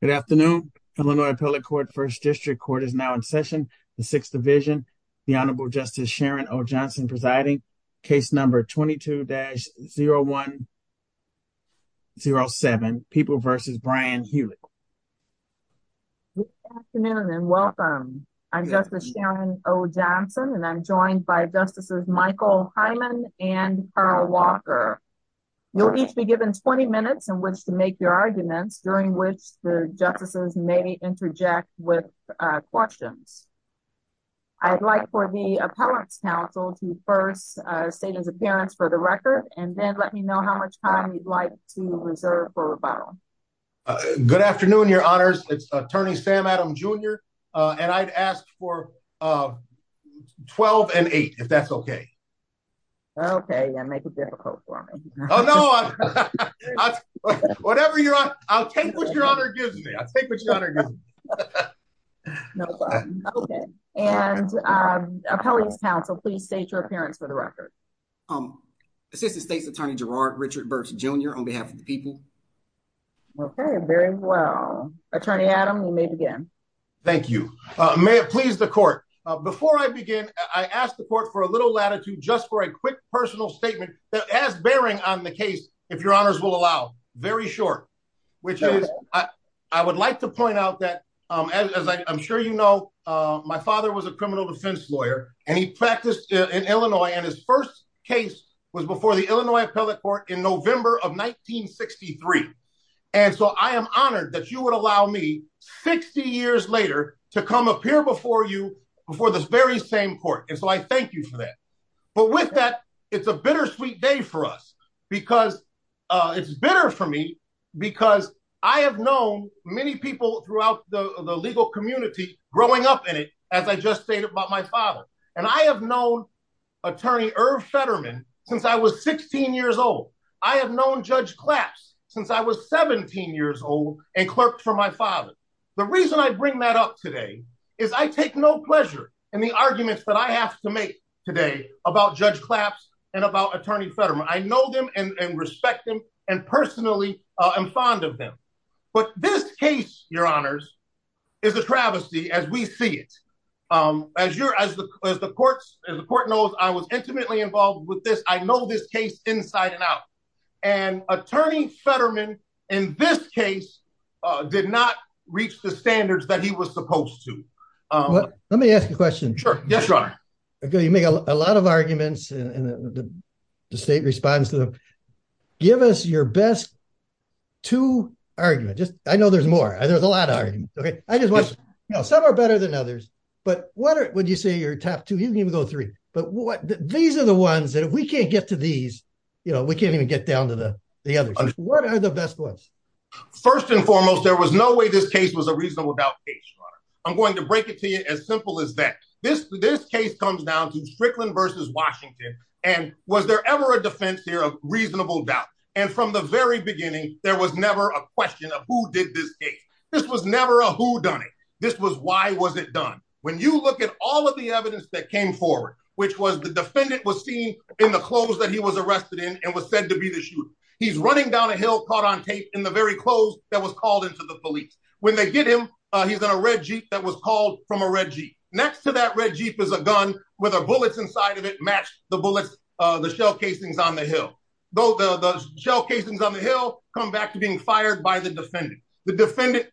Good afternoon. Illinois Appellate Court First District Court is now in session. The Sixth Division, the Honorable Justice Sharon O. Johnson presiding. Case number 22-0107, People v. Brian Hewlett. Good afternoon and welcome. I'm Justice Sharon O. Johnson and I'm joined by Justices Michael Hyman and Carl Walker. You'll each be given 20 minutes in which to make your arguments during which the justices may interject with questions. I'd like for the Appellate's counsel to first state his appearance for the record and then let me know how much time you'd like to reserve for rebuttal. Good afternoon, Your Honors. It's Attorney Sam Adam Jr. and I'd ask for 12 and 8 if that's okay. Okay, make it difficult for me. Oh no, I'll take what Your Honor gives me. I'll take what Your Honor gives me. Okay, and Appellate's counsel, please state your appearance for the record. Assistant States Attorney Gerard Richard Burks Jr. on behalf of the people. Okay, very well. Attorney Adam, you may begin. Thank you. May it please the court. Before I begin, I ask the court for a little latitude just for a quick personal statement as bearing on the case if Your Honors will allow. Very short, which is I would like to point out that as I'm sure you know, my father was a criminal defense lawyer and he practiced in Illinois and his first case was before the in November of 1963. And so I am honored that you would allow me 60 years later to come up here before you before this very same court. And so I thank you for that. But with that, it's a bittersweet day for us. Because it's bitter for me, because I have known many people throughout the legal community growing up in it, as I just stated about my father. And I have known Attorney Irv Fetterman since I was 16 years old. I have known Judge Claps since I was 17 years old and clerked for my father. The reason I bring that up today is I take no pleasure in the arguments that I have to make today about Judge Claps and about Attorney Fetterman. I know them and respect them. And personally, I'm fond of them. But this case, Your Honors, is a travesty as we see it. As the court knows, I was intimately involved with this. I know this case inside and out. And Attorney Fetterman, in this case, did not reach the standards that he was supposed to. Let me ask you a question. Sure. Yes, Your Honor. You make a lot of arguments and the state responds to them. Give us your best two arguments. I know there's more. There's a lot of arguments. Some are better than others. But what would you say your top two? You can even go three. But these are the ones that if we can't get to these, you know, we can't even get down to the others. What are the best ones? First and foremost, there was no way this case was a reasonable doubt case, Your Honor. I'm going to break it to you as simple as that. This case comes down to Strickland versus Washington. And was there ever a defense here of reasonable doubt? And from the very beginning, there was never a question of who did this case. This was never a whodunit. This was why was it done. When you look at all of the evidence that came forward, which was the defendant was seen in the clothes that he was arrested in and was said to be the shooter. He's running down a hill caught on tape in the very clothes that was called into the police. When they get him, he's in a red Jeep that was called from a red Jeep. Next to that red Jeep is a gun with a bullets inside of it matched the bullets, the shell casings on the hill. Though the shell casings on the hill come back to being fired by the defendant. The defendant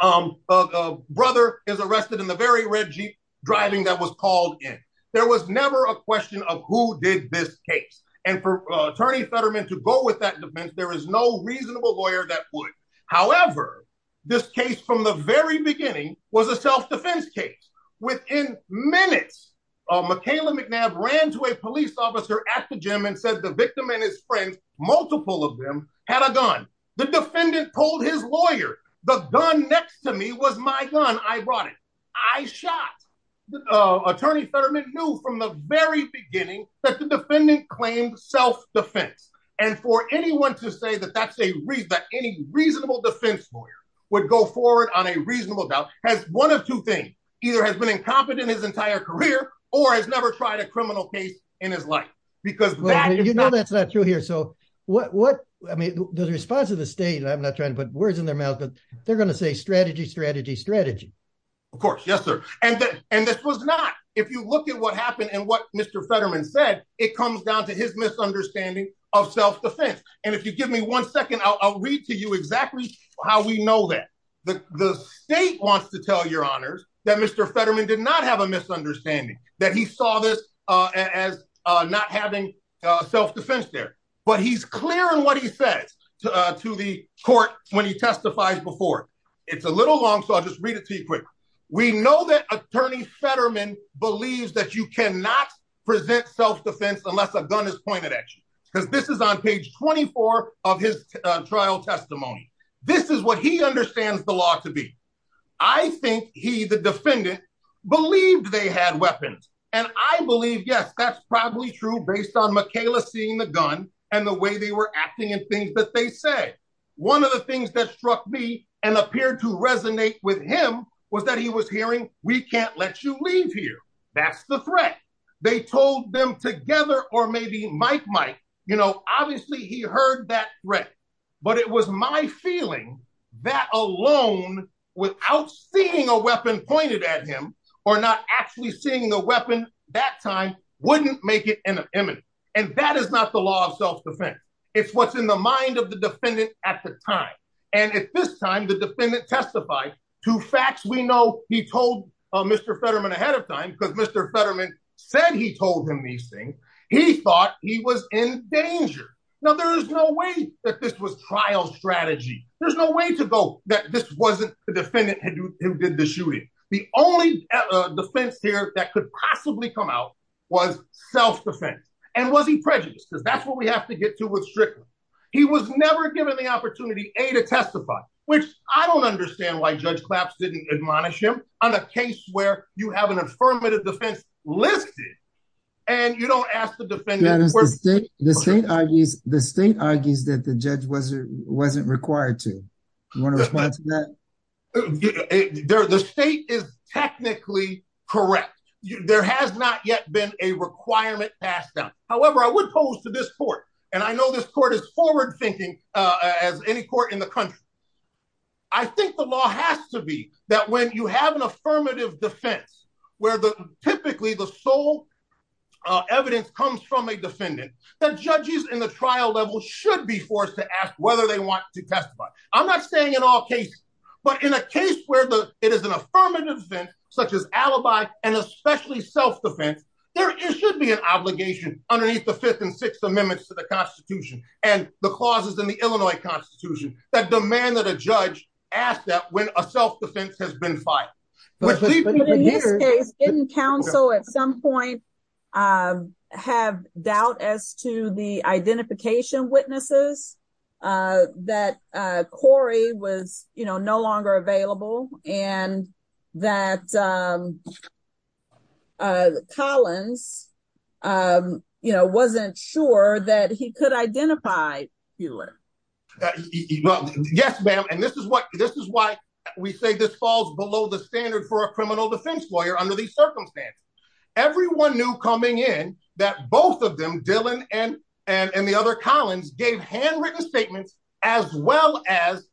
brother is arrested in the very red Jeep driving that was called in. There was never a question of who did this case. And for Attorney Fetterman to go with that defense, there is no reasonable lawyer that would. However, this case from the very beginning was a self-defense case. Within minutes, Michaela McNabb ran to a police officer at the gym and said the victim and his friends, multiple of them had a gun. The defendant told his lawyer, the gun next to me was my gun. I brought it. I shot. Attorney Fetterman knew from the very beginning that the defendant claimed self-defense. And for anyone to say that that's a reason that any reasonable defense lawyer would go forward on a reasonable doubt has one of two things, either has been incompetent his entire career or has never tried a criminal case in his life. Because you know, that's not true here. So what, what, I mean, the response of the state, I'm not trying to put words in their mouth, but they're going to say strategy, strategy, strategy. Of course. Yes, sir. And, and this was not, if you look at what happened and what Mr. Fetterman said, it comes down to his misunderstanding of the state wants to tell your honors that Mr. Fetterman did not have a misunderstanding that he saw this as not having self-defense there, but he's clear in what he says to the court when he testifies before it's a little long. So I'll just read it to you quick. We know that attorney Fetterman believes that you cannot present self-defense unless a gun is pointed at you. This is on page 24 of his trial testimony. This is what he understands the law to be. I think he, the defendant believed they had weapons. And I believe, yes, that's probably true based on Michaela seeing the gun and the way they were acting and things that they say. One of the things that struck me and appeared to resonate with him was that he was hearing, we can't let you leave here. That's the threat. They told them together, or maybe Mike might, obviously he heard that threat, but it was my feeling that alone, without seeing a weapon pointed at him or not actually seeing the weapon that time wouldn't make it imminent. And that is not the law of self-defense. It's what's in the mind of the defendant at the time. And at this time, the defendant testified to facts. We know he told Mr. Fetterman ahead of time. Now, there is no way that this was trial strategy. There's no way to go that this wasn't the defendant who did the shooting. The only defense here that could possibly come out was self-defense. And was he prejudiced? Because that's what we have to get to with Strickland. He was never given the opportunity, A, to testify, which I don't understand why Judge Claps didn't admonish him on a case where you have an affirmative defense listed and you don't ask the defendant- The state argues that the judge wasn't required to. You want to respond to that? The state is technically correct. There has not yet been a requirement passed down. However, I would pose to this court, and I know this court is forward thinking as any court in the country. I think the law has to be that when you have an affirmative defense, where typically the sole evidence comes from a defendant, that judges in the trial level should be forced to ask whether they want to testify. I'm not saying in all cases, but in a case where it is an affirmative defense such as alibi and especially self-defense, there should be an obligation underneath the Fifth and Sixth Amendments to the Constitution and the clauses in the Illinois Constitution that demand that a judge ask that when a self-defense has been filed. But in this case, didn't counsel at some point have doubt as to the identification witnesses, that Corey was no longer available, and that Collins wasn't sure that he could identify Hewlett? Yes, ma'am. And this is why we say this falls below the standard for a criminal defense lawyer under these circumstances. Everyone knew coming in that both of them, Dylan and the other Collins, gave handwritten statements as well as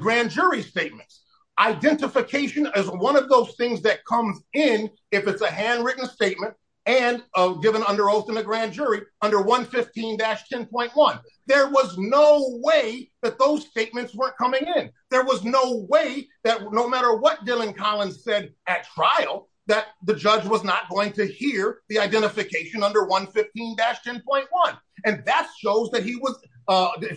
grand jury statements. Identification is one of those things that comes in if it's a handwritten statement and given under oath in a grand jury under 115-10.1. There was no way that those statements weren't coming in. There was no way that no matter what that the judge was not going to hear the identification under 115-10.1, and that shows that he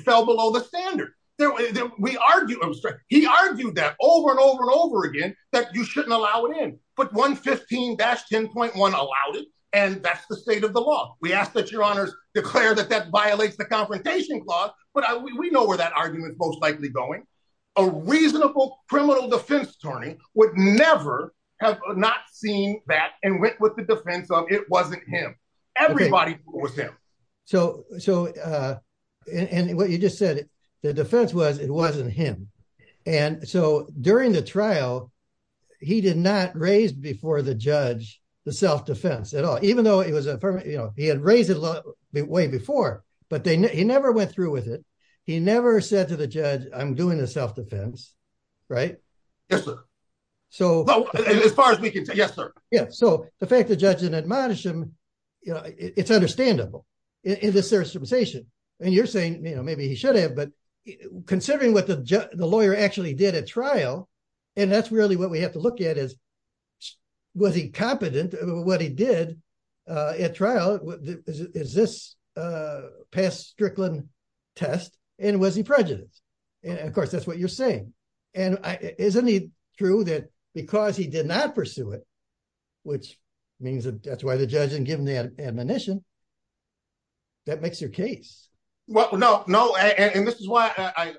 fell below the standard. He argued that over and over and over again that you shouldn't allow it in, but 115-10.1 allowed it, and that's the state of the law. We ask that your honors declare that that violates the Confrontation Clause, but we know where that argument is most and went with the defense of it wasn't him. Everybody was him. And what you just said, the defense was it wasn't him, and so during the trial, he did not raise before the judge the self-defense at all, even though he had raised it way before, but he never went through with it. He never said to the judge, I'm doing the self-defense, right? Yes, sir. As far as we can tell, yes, sir. Yeah, so the fact the judge didn't admonish him, it's understandable in this circumstantiation, and you're saying maybe he should have, but considering what the lawyer actually did at trial, and that's really what we have to look at is was he competent, what he did at trial, is this past Strickland test, and was he prejudiced, and of course, that's what you're saying, and isn't it true that because he did not pursue it, which means that that's why the judge didn't give him the admonition, that makes your case. Well, no, no, and this is why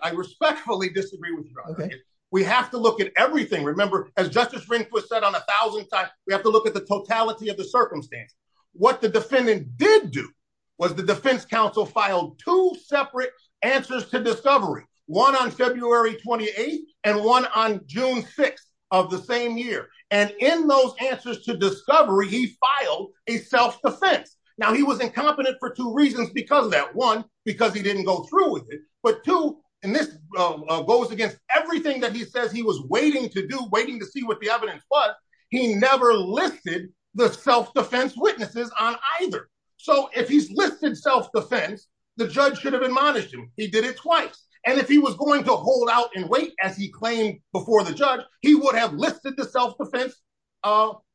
I respectfully disagree with you. We have to look at everything. Remember, as Justice Ringfoot said on a thousand times, we have to look at the totality of the circumstance. What the defendant did do was the defense counsel filed two separate answers to discovery, one on February 28th and one on June 6th of the same year, and in those answers to discovery, he filed a self-defense. Now, he was incompetent for two reasons because of that. One, because he didn't go through with it, but two, and this goes against everything that he says he was waiting to do, waiting to see what the evidence was, he never listed the self-defense witnesses on either, so if he's listed self-defense, the judge should have admonished him. He did it twice, and if he was going to hold out and wait as he claimed before the judge, he would have listed the self-defense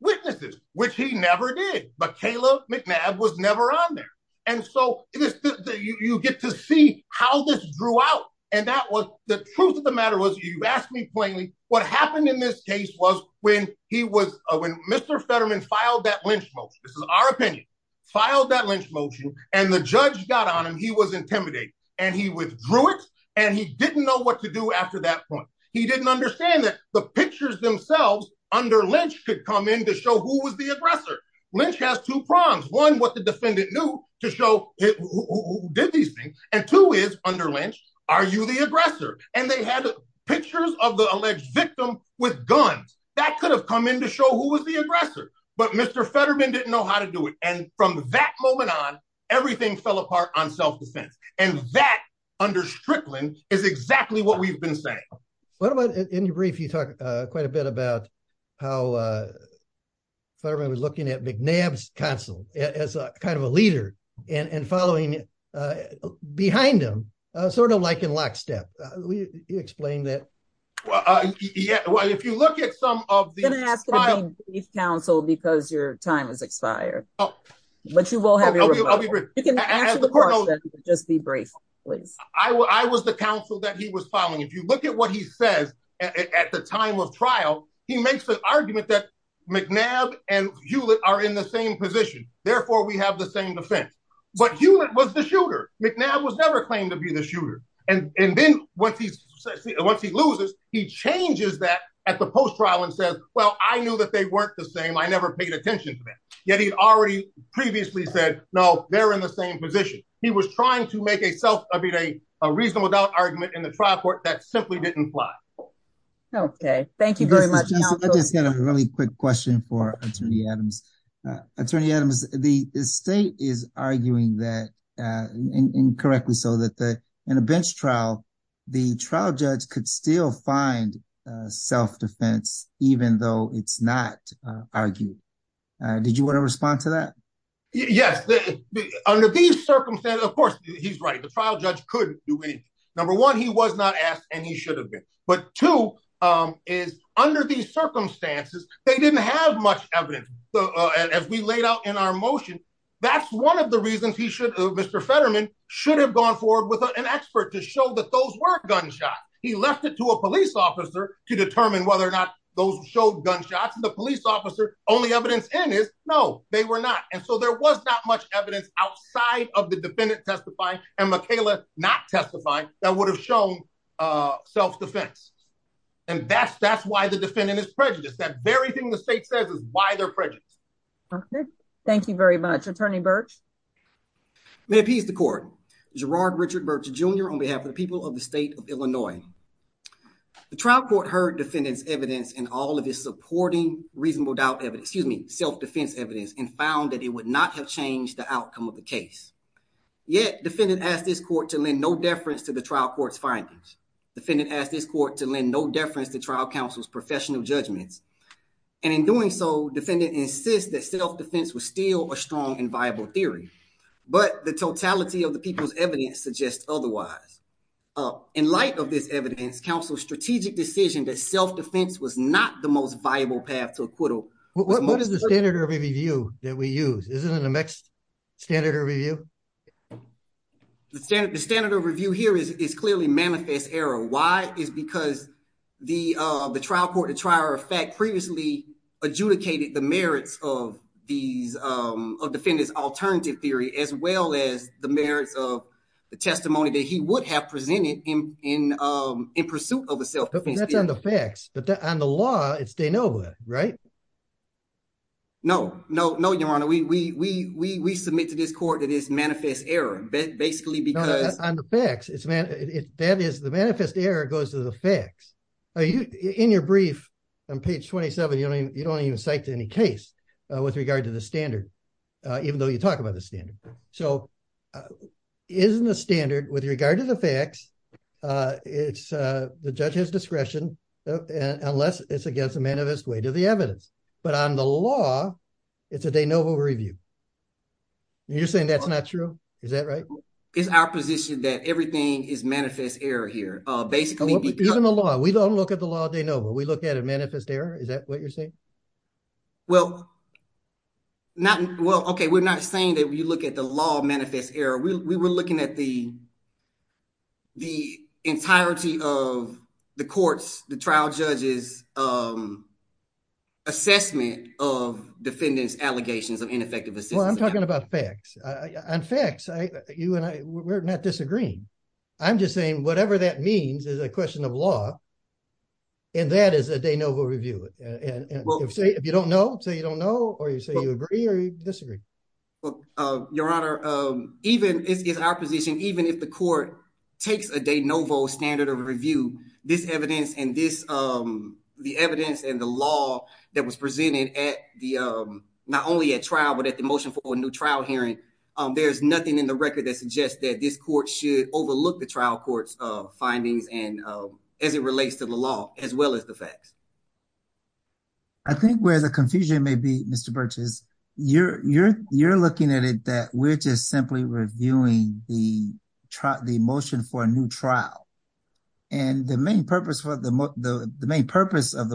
witnesses, which he never did, but Kayla McNabb was never on there, and so you get to see how this drew out, and the truth of the matter was, you asked me plainly, what happened in this case was when Mr. Fetterman filed that lynch motion, this is our and he didn't know what to do after that point. He didn't understand that the pictures themselves under lynch could come in to show who was the aggressor. Lynch has two prongs. One, what the defendant knew to show who did these things, and two is, under lynch, are you the aggressor, and they had pictures of the alleged victim with guns. That could have come in to show who was the aggressor, but Mr. Fetterman didn't know how to do it, and from that moment on, everything fell apart on self-defense, and that, under Strickland, is exactly what we've been saying. What about, in your brief, you talk quite a bit about how Fetterman was looking at McNabb's counsel as a kind of a leader and following behind him, sort of like in lockstep. Will you explain that? Well, if you look at some of the- I'm going to ask you to be brief counsel because your time has expired, but you will have your rebuttal. You can answer the question, but just be brief, please. I was the counsel that he was following. If you look at what he says at the time of trial, he makes the argument that McNabb and Hewlett are in the same position, therefore, we have the same defense, but Hewlett was the shooter. McNabb was never claimed to be the shooter, and then, once he loses, he changes that at the post-trial and says, well, I knew that they weren't the same. I never paid attention to that, yet he'd already previously said, no, they're in the same position. He was trying to make a self- I mean, a reasonable doubt argument in the trial court that simply didn't fly. Okay. Thank you very much. I just got a really quick question for Attorney Adams. Attorney Adams, the state is arguing that, incorrectly so, that in a bench trial, the trial judge could still find self-defense, even though it's not argued. Did you want to respond to that? Yes. Under these circumstances, of course, he's right. The trial judge could do anything. Number one, he was not asked, and he should have been, but two is, under these circumstances, they didn't have much evidence. As we laid out in our motion, that's one of the Mr. Fetterman should have gone forward with an expert to show that those were gunshots. He left it to a police officer to determine whether or not those showed gunshots, and the police officer, only evidence in is, no, they were not. And so, there was not much evidence outside of the defendant testifying and Michaela not testifying that would have shown self-defense. And that's why the defendant is prejudiced. That very thing the state says is why they're prejudiced. Okay. Thank you very much. Attorney Birch. May it please the court. Gerard Richard Birch Jr. on behalf of the people of the state of Illinois. The trial court heard defendant's evidence in all of his supporting reasonable doubt evidence, excuse me, self-defense evidence, and found that it would not have changed the outcome of the case. Yet, defendant asked this court to lend no deference to the trial court's findings. Defendant asked this court to lend no deference to trial counsel's professional judgments. And in doing so, defendant insists that self-defense was still a strong and viable theory, but the totality of the people's evidence suggests otherwise. In light of this evidence, counsel's strategic decision that self-defense was not the most viable path to acquittal. What is the standard review that we use? Isn't it a mixed standard review? The standard review here is clearly manifest error. Why? It's because the trial court, the trier of fact, previously adjudicated the merits of defendant's alternative theory, as well as the merits of the testimony that he would have presented in pursuit of a self-defense theory. That's on the facts, but on the law, it's de novo, right? No, no, no, your honor. We submit to this court that it's manifest error, basically because... On the facts, that is, the manifest error goes to the facts. In your brief on page 27, you don't even cite any case with regard to the standard, even though you talk about the standard. So, isn't the standard with regard to the facts, it's the judge's discretion, unless it's against the manifest weight of the You're saying that's not true? Is that right? It's our position that everything is manifest error here, basically because... Even the law, we don't look at the law de novo, we look at a manifest error. Is that what you're saying? Well, okay, we're not saying that you look at the law manifest error. We were looking at the entirety of the court's, the trial judge's assessment of defendants' allegations of ineffective assistance. Well, I'm talking about facts. On facts, you and I, we're not disagreeing. I'm just saying whatever that means is a question of law, and that is a de novo review. If you don't know, say you don't know, or you say you agree, or you disagree. Your honor, it's our position, even if the court takes a de novo standard of review, this evidence and the evidence and the law that was presented not only at trial, but at the motion for a new trial hearing, there's nothing in the record that suggests that this court should overlook the trial court's findings as it relates to the law, as well as the facts. I think where the confusion may be, Mr. Burchess, you're looking at it that we're just simply reviewing the motion for a new trial. And the main purpose of the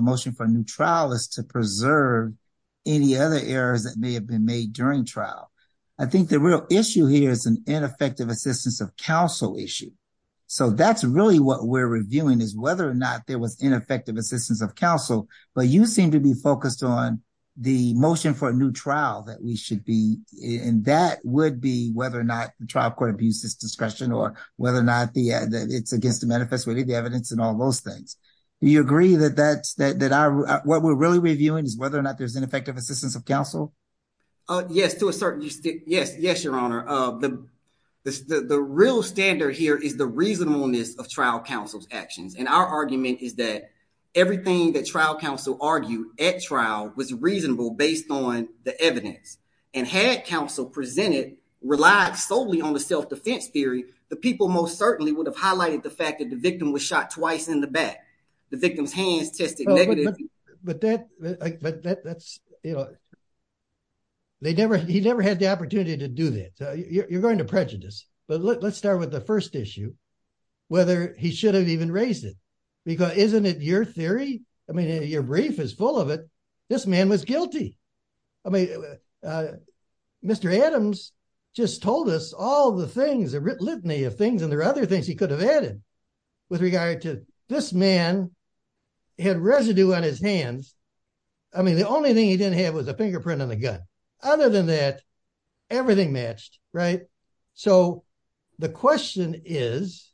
motion for a new trial is to preserve any other errors that may have been made during trial. I think the real issue here is an ineffective assistance of counsel issue. So that's really what we're reviewing is whether or not there was ineffective assistance of counsel, but you seem to be focused on the motion for a new trial that we should be in. That would be whether or not the trial court abuses discretion or whether or not it's against the manifesto evidence and all those things. Do you agree that what we're really reviewing is whether or not there's ineffective assistance of counsel? Yes, to a certain extent. Yes, yes, your honor. The real standard here is the reasonableness of trial counsel's actions. And our argument is that everything that trial counsel argued at trial was reasonable based on the evidence. And had counsel presented, relied solely on the self-defense theory, the people most certainly would have highlighted the fact that the victim was shot twice in the back. The victim's hands tested negative. He never had the opportunity to do that. You're going to prejudice. But let's start with the brief is full of it. This man was guilty. I mean, Mr. Adams just told us all the things, the litany of things and there are other things he could have added with regard to this man had residue on his hands. I mean, the only thing he didn't have was a fingerprint on the gun. Other than that, everything matched. Right. So the question is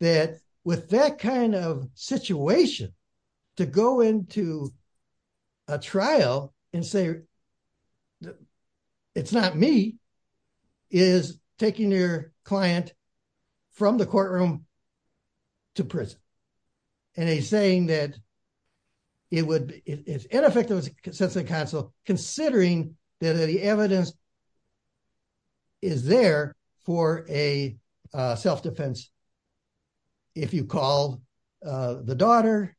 that with that kind of situation to go into a trial and say, it's not me, is taking your client from the courtroom to prison. And he's saying that it would it's ineffective sense of counsel, considering that the evidence is there for a self-defense. If you call the daughter,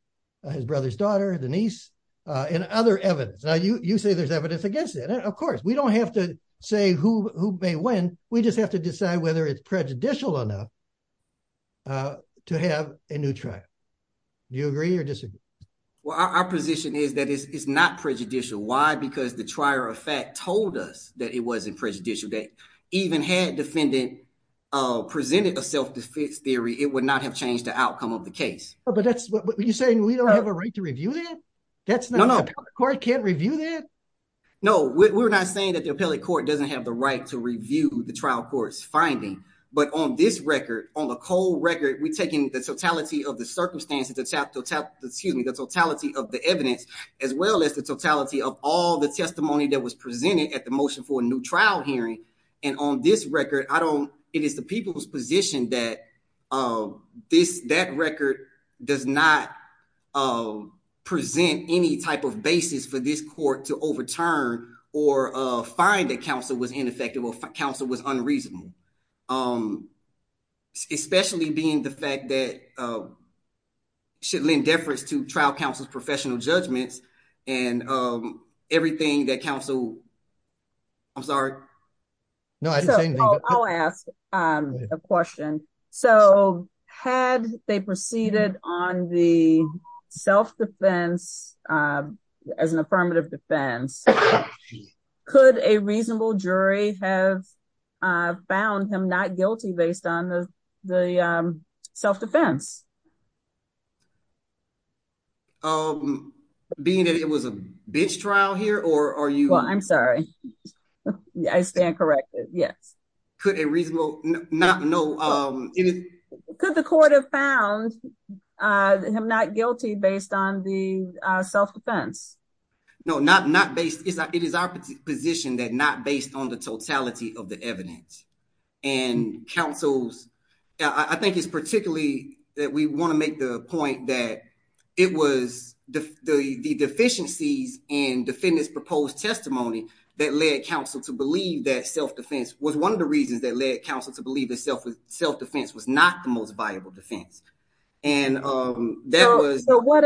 his brother's daughter, the niece and other evidence, you say there's evidence against it. Of course, we don't have to say who who may win. We just have to decide whether it's prejudicial enough to have a new trial. Do you agree or disagree? Well, our position is that it's not prejudicial. Why? Because the trier of fact told us that it wasn't prejudicial. They even had defendant presented a self-defense theory. It would not have changed the outcome of the case. But that's what you're saying. We don't have a right to review that. That's not a court. Can't review that. No, we're not saying that the appellate court doesn't have the right to review the trial court's finding. But on this record, on the cold record, we're taking the totality of the circumstances, the top top, excuse me, the totality of the evidence, as well as the totality of all the testimony that was presented at the motion for a new trial hearing. And on this record, I don't it is the people's position that this that record does not present any type of basis for this court to overturn or find that counsel was ineffective or counsel was unreasonable, especially being the fact that should lend deference to trial professional judgments and everything that counsel. I'm sorry. No, I didn't say anything. I'll ask a question. So had they proceeded on the self-defense as an affirmative defense, could a reasonable jury have found him not guilty based on the the self-defense? Um, being that it was a bitch trial here, or are you? Well, I'm sorry. I stand corrected. Yes. Could a reasonable not? No. Could the court have found him not guilty based on the self-defense? No, not not based. It is our position that not based on the totality of the evidence and counsels, I think it's particularly that we want to make the point that it was the deficiencies and defendants proposed testimony that led counsel to believe that self-defense was one of the reasons that led counsel to believe that self-defense was not the most viable defense. And that was what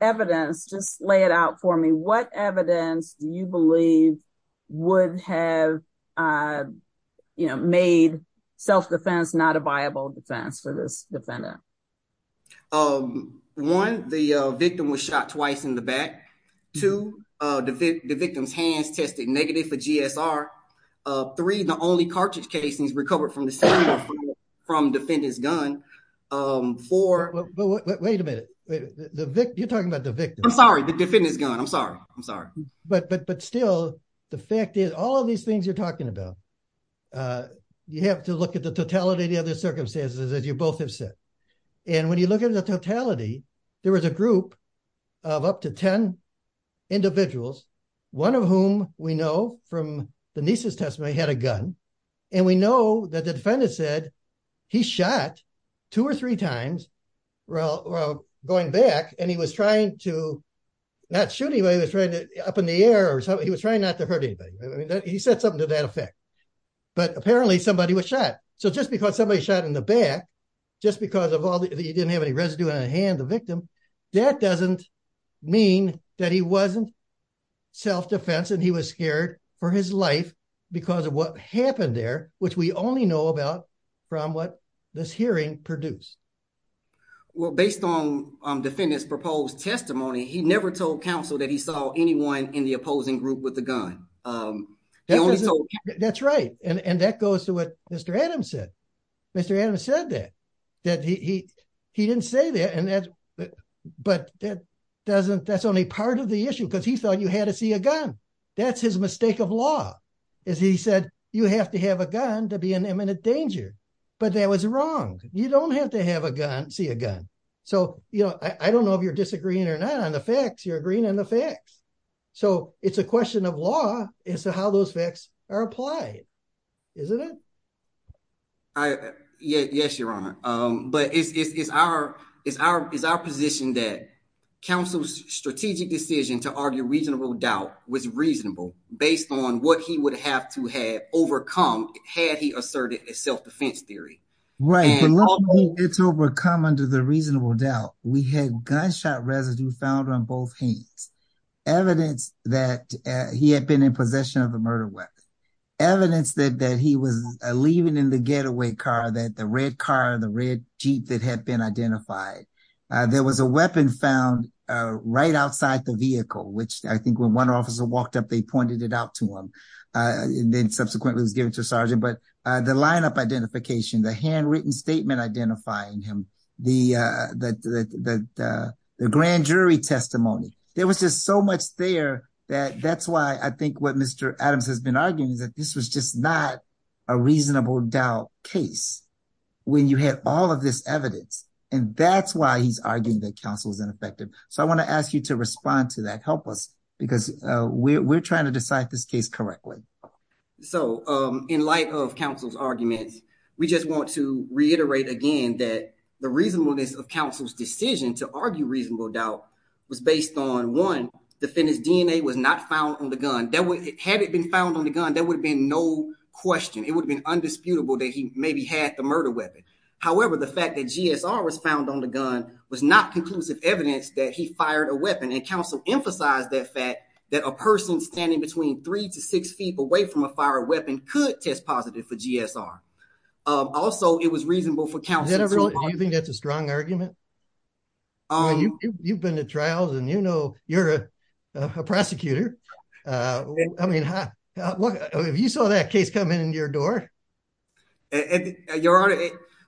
evidence just lay it out for me. What evidence do you believe would have, you know, made self-defense not a viable defense for this defendant? One, the victim was shot twice in the back. Two, the victim's hands tested negative for GSR. Three, the only cartridge casings recovered from the second from defendant's gun. Wait a minute. You're talking about the victim. I'm sorry, the defendant's gun. I'm the fact is all of these things you're talking about. You have to look at the totality of the other circumstances as you both have said. And when you look at the totality, there was a group of up to 10 individuals, one of whom we know from the niece's testimony had a gun. And we know that the defendant said he shot two or three times. Well, going back and he was trying to not shoot anybody. He was trying to up in the air or something. He was trying not to hurt anybody. I mean, he said something to that effect, but apparently somebody was shot. So just because somebody shot in the back, just because of all the, you didn't have any residue on the hand, the victim, that doesn't mean that he wasn't self-defense and he was scared for his life because of what happened there, which we only know about from what this hearing produced. Well, based on defendant's proposed testimony, he never told council that he saw anyone in the opposing group with the gun. That's right. And that goes to what Mr. Adams said. Mr. Adams said that, that he didn't say that, but that doesn't, that's only part of the issue because he thought you had to see a gun. That's his mistake of law is he said, you have to have a gun to be in imminent danger, but that was wrong. You don't have to have a gun, see a gun. So, you know, I don't know if you're disagreeing or not on the facts, you're agreeing on the facts. So it's a question of law as to how those facts are applied, isn't it? Yes, your honor. But it's our position that council's strategic decision to argue reasonable doubt was reasonable based on what he would have to have overcome had he asserted a self-defense theory. Right. It's overcome under the reasonable doubt. We had gunshot residue found on both hands, evidence that he had been in possession of a murder weapon, evidence that he was leaving in the getaway car, that the red car, the red Jeep that had been identified, there was a weapon found right outside the vehicle, which I think when one officer walked up, they pointed it out to him and then subsequently was given to a sergeant. But the lineup identification, the handwritten statement identifying him, the grand jury testimony, there was just so much there that that's why I think what Mr. Adams has been arguing is that this was just not a reasonable doubt case when you had all of this evidence. And that's why he's arguing that counsel is ineffective. So I want to ask you to respond to that. Help us, because we're trying to decide this case correctly. So in light of counsel's arguments, we just want to reiterate again that the reasonableness of counsel's decision to argue reasonable doubt was based on, one, defendant's DNA was not found on the gun. Had it been found on the gun, there would have been no question. It would have been undisputable that he maybe had the murder weapon. However, the fact that GSR was found on the gun was not conclusive evidence that he fired a weapon. And counsel emphasized that fact that a person standing between three to six feet away from a fired weapon could test positive for GSR. Also, it was reasonable for counsel to- Do you think that's a strong argument? You've been to trials and you know you're a prosecutor. I mean, have you saw that case come in your door? Your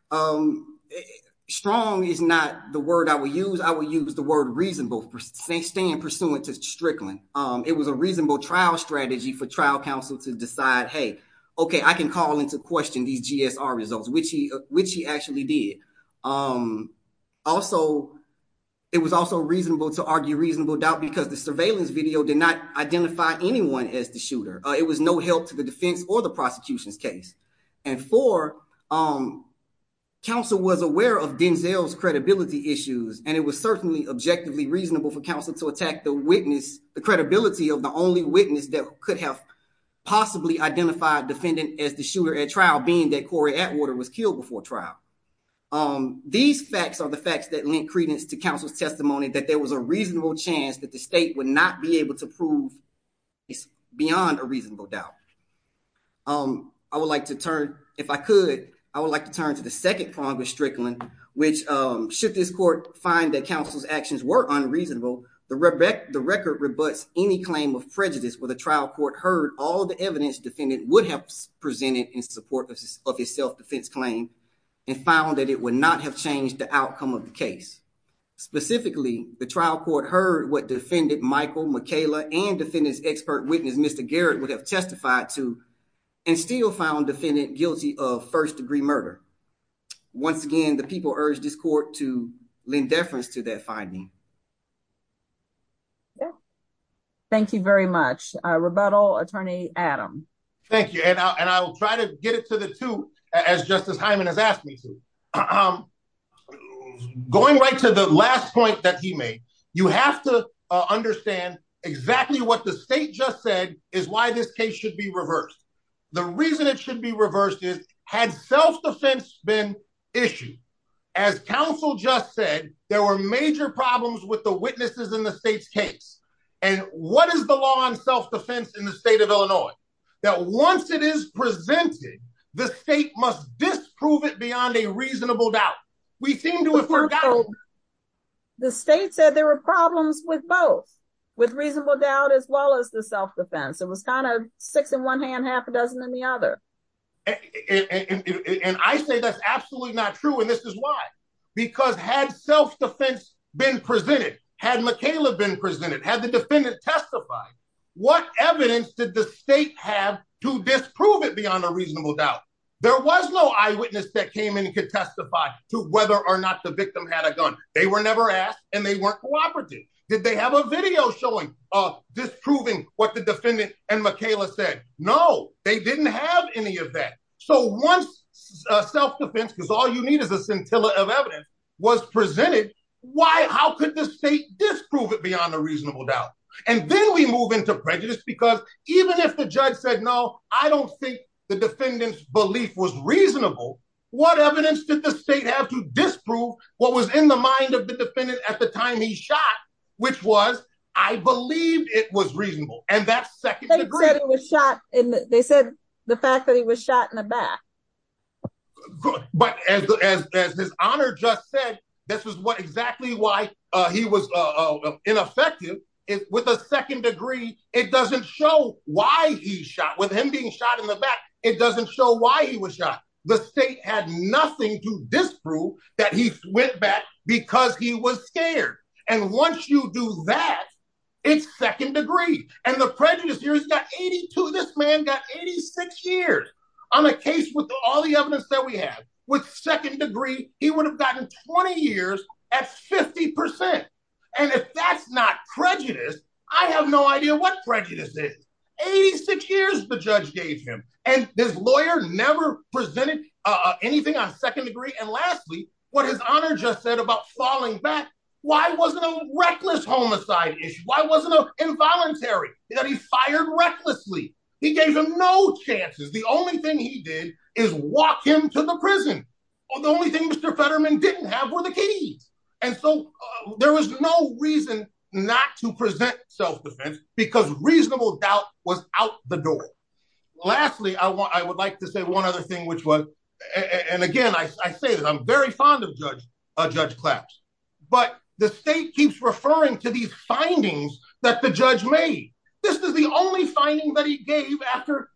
Honor, strong is not the word I would use. I would use the word reasonable for staying pursuant to Strickland. It was a reasonable trial strategy for trial counsel to decide, hey, okay, I can call into question these GSR results, which he actually did. Also, it was also reasonable to argue reasonable doubt because the surveillance video did not identify anyone as the shooter. It was no help to the defense or the prosecution's case. And four, counsel was aware of Denzel's credibility issues, and it was certainly objectively reasonable for counsel to attack the witness, the credibility of the only witness that could have possibly identified defendant as the shooter at trial, being that Corey Atwater was killed before trial. These facts are the facts that link credence to counsel's testimony that there was a reasonable chance that the state would not be able to prove beyond a reasonable doubt. I would like to turn, if I could, I would like to turn to the second prong of Strickland, which should this court find that counsel's actions were unreasonable, the record rebuts any claim of prejudice where the trial court heard all the evidence defendant would have presented in support of his self-defense claim and found that it would not have changed the outcome of the case. Specifically, the trial court heard what defendant Michael McKayla and defendant's witness, Mr. Garrett, would have testified to and still found defendant guilty of first-degree murder. Once again, the people urged this court to lend deference to that finding. Thank you very much. Rebuttal, Attorney Adam. Thank you. And I'll try to get it to the two as Justice Hyman has asked me to. Going right to the last point that he made, you have to understand exactly what the state just said is why this case should be reversed. The reason it should be reversed is, had self-defense been issued, as counsel just said, there were major problems with the witnesses in the state's case. And what is the law on self-defense in the state of Illinois? That once it is presented, the state must disprove it beyond a reasonable doubt. We seem to have forgotten. The state said there were problems with both, with reasonable doubt as well as the self-defense. It was kind of six in one hand, half a dozen in the other. And I say that's absolutely not true, and this is why. Because had self-defense been presented, had McKayla been presented, had the defendant testified, what evidence did the state have to disprove it beyond a reasonable doubt? There was no eyewitness that came in and could testify to whether or not the victim had a gun. They were never asked, and they weren't cooperating. Did they have a video showing of disproving what the defendant and McKayla said? No, they didn't have any of that. So once self-defense, because all you need is a scintilla of evidence, was presented, how could the state disprove it beyond a reasonable doubt? And then we move into prejudice, because even if the judge said, no, I don't think the defendant's disproved what was in the mind of the defendant at the time he shot, which was, I believe it was reasonable. And that's second degree. They said the fact that he was shot in the back. But as this honor just said, this is exactly why he was ineffective. With a second degree, it doesn't show why he shot. With him being shot in the back, it doesn't show why he was shot. The state had nothing to disprove that he went back because he was scared. And once you do that, it's second degree. And the prejudice here has got 82, this man got 86 years. On a case with all the evidence that we have, with second degree, he would have gotten 20 years at 50%. And if that's not prejudice, I have no idea what prejudice is. 86 years the judge gave him. And this lawyer never presented anything on second degree. And lastly, what his honor just said about falling back, why wasn't a reckless homicide issue? Why wasn't it involuntary that he fired recklessly? He gave him no chances. The only thing he did is walk him to the prison. The only thing Mr. Fetterman didn't have were the keys. And so there was no reason not to present self-defense because reasonable doubt was out the door. Lastly, I would like to say one other thing, which was, and again, I say that I'm very fond of Judge Claps, but the state keeps referring to these findings that the judge made. This is the only finding that he gave after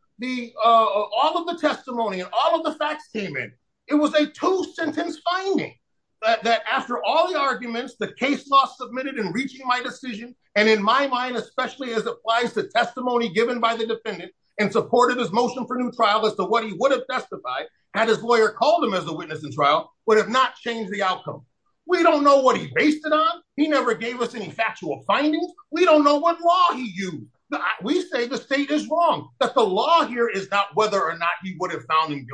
all of the testimony and all of the facts came in. It was a two sentence finding that after all the arguments, the case law submitted in reaching my decision. And in my mind, especially as applies to testimony given by the defendant and supported his motion for new trial as to what he would have testified had his lawyer called him as a witness in trial would have not changed the outcome. We don't know what he based it on. He never gave us any factual findings. We don't know what law he used. We say the state is wrong, that the law here is not whether or not he would have found him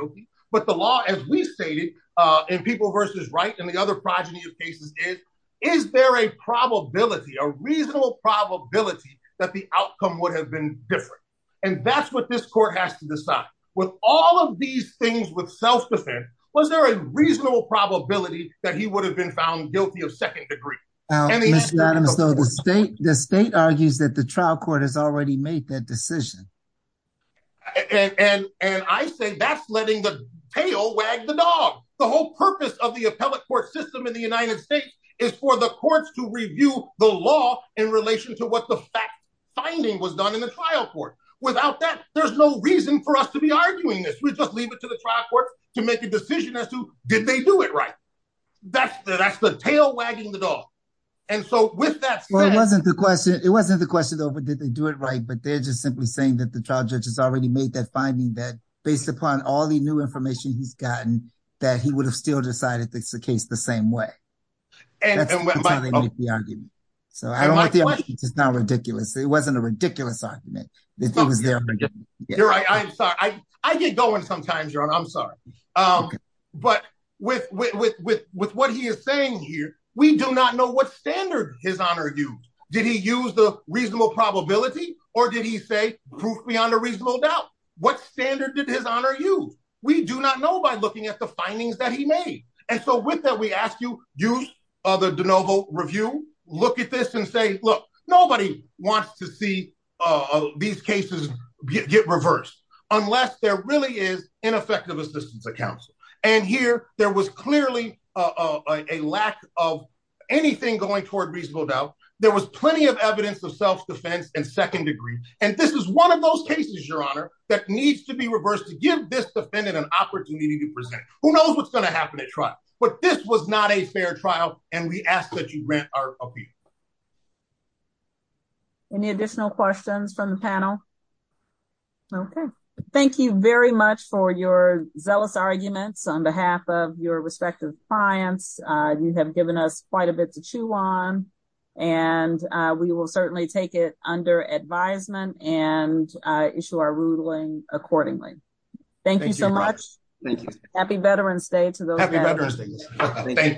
Is there a probability, a reasonable probability that the outcome would have been different? And that's what this court has to decide. With all of these things with self-defense, was there a reasonable probability that he would have been found guilty of second degree? The state argues that the trial court has already made that decision. And I say that's letting the tail wag the dog. The whole purpose of the appellate court system in the United States is for the courts to review the law in relation to what the fact finding was done in the trial court. Without that, there's no reason for us to be arguing this. We just leave it to the trial court to make a decision as to did they do it right? That's the tail wagging the dog. And so with that, it wasn't the question. It wasn't the question over did they do it right? But they're just simply saying that the trial judge has already made that finding that based upon all the new information he's gotten, that he would have still decided it's the case the same way. That's the argument. So I don't think it's not ridiculous. It wasn't a ridiculous argument. You're right. I'm sorry. I get going sometimes, your honor. I'm sorry. But with what he is saying here, we do not know what standard his honor used. Did he use the reasonable probability? Or did he say proof beyond a reasonable doubt? What standard did his honor use? We do not know by looking at the findings that he made. And so with that, we ask you use the de novo review, look at this and say, look, nobody wants to see these cases get reversed, unless there really is ineffective assistance accounts. And here, there was clearly a lack of anything going toward reasonable doubt. There was plenty of evidence of self defense and second degree. And this is one of those cases, your honor, that needs to be reversed to give this defendant an opportunity to present who knows what's going to happen at trial. But this was not a fair trial. And we ask that you rent our appeal. Any additional questions from the panel? Okay, thank you very much for your zealous arguments on behalf of your respective clients. You have given us quite a bit to chew on. And we will accordingly. Thank you so much. Thank you. Happy Veterans Day to those.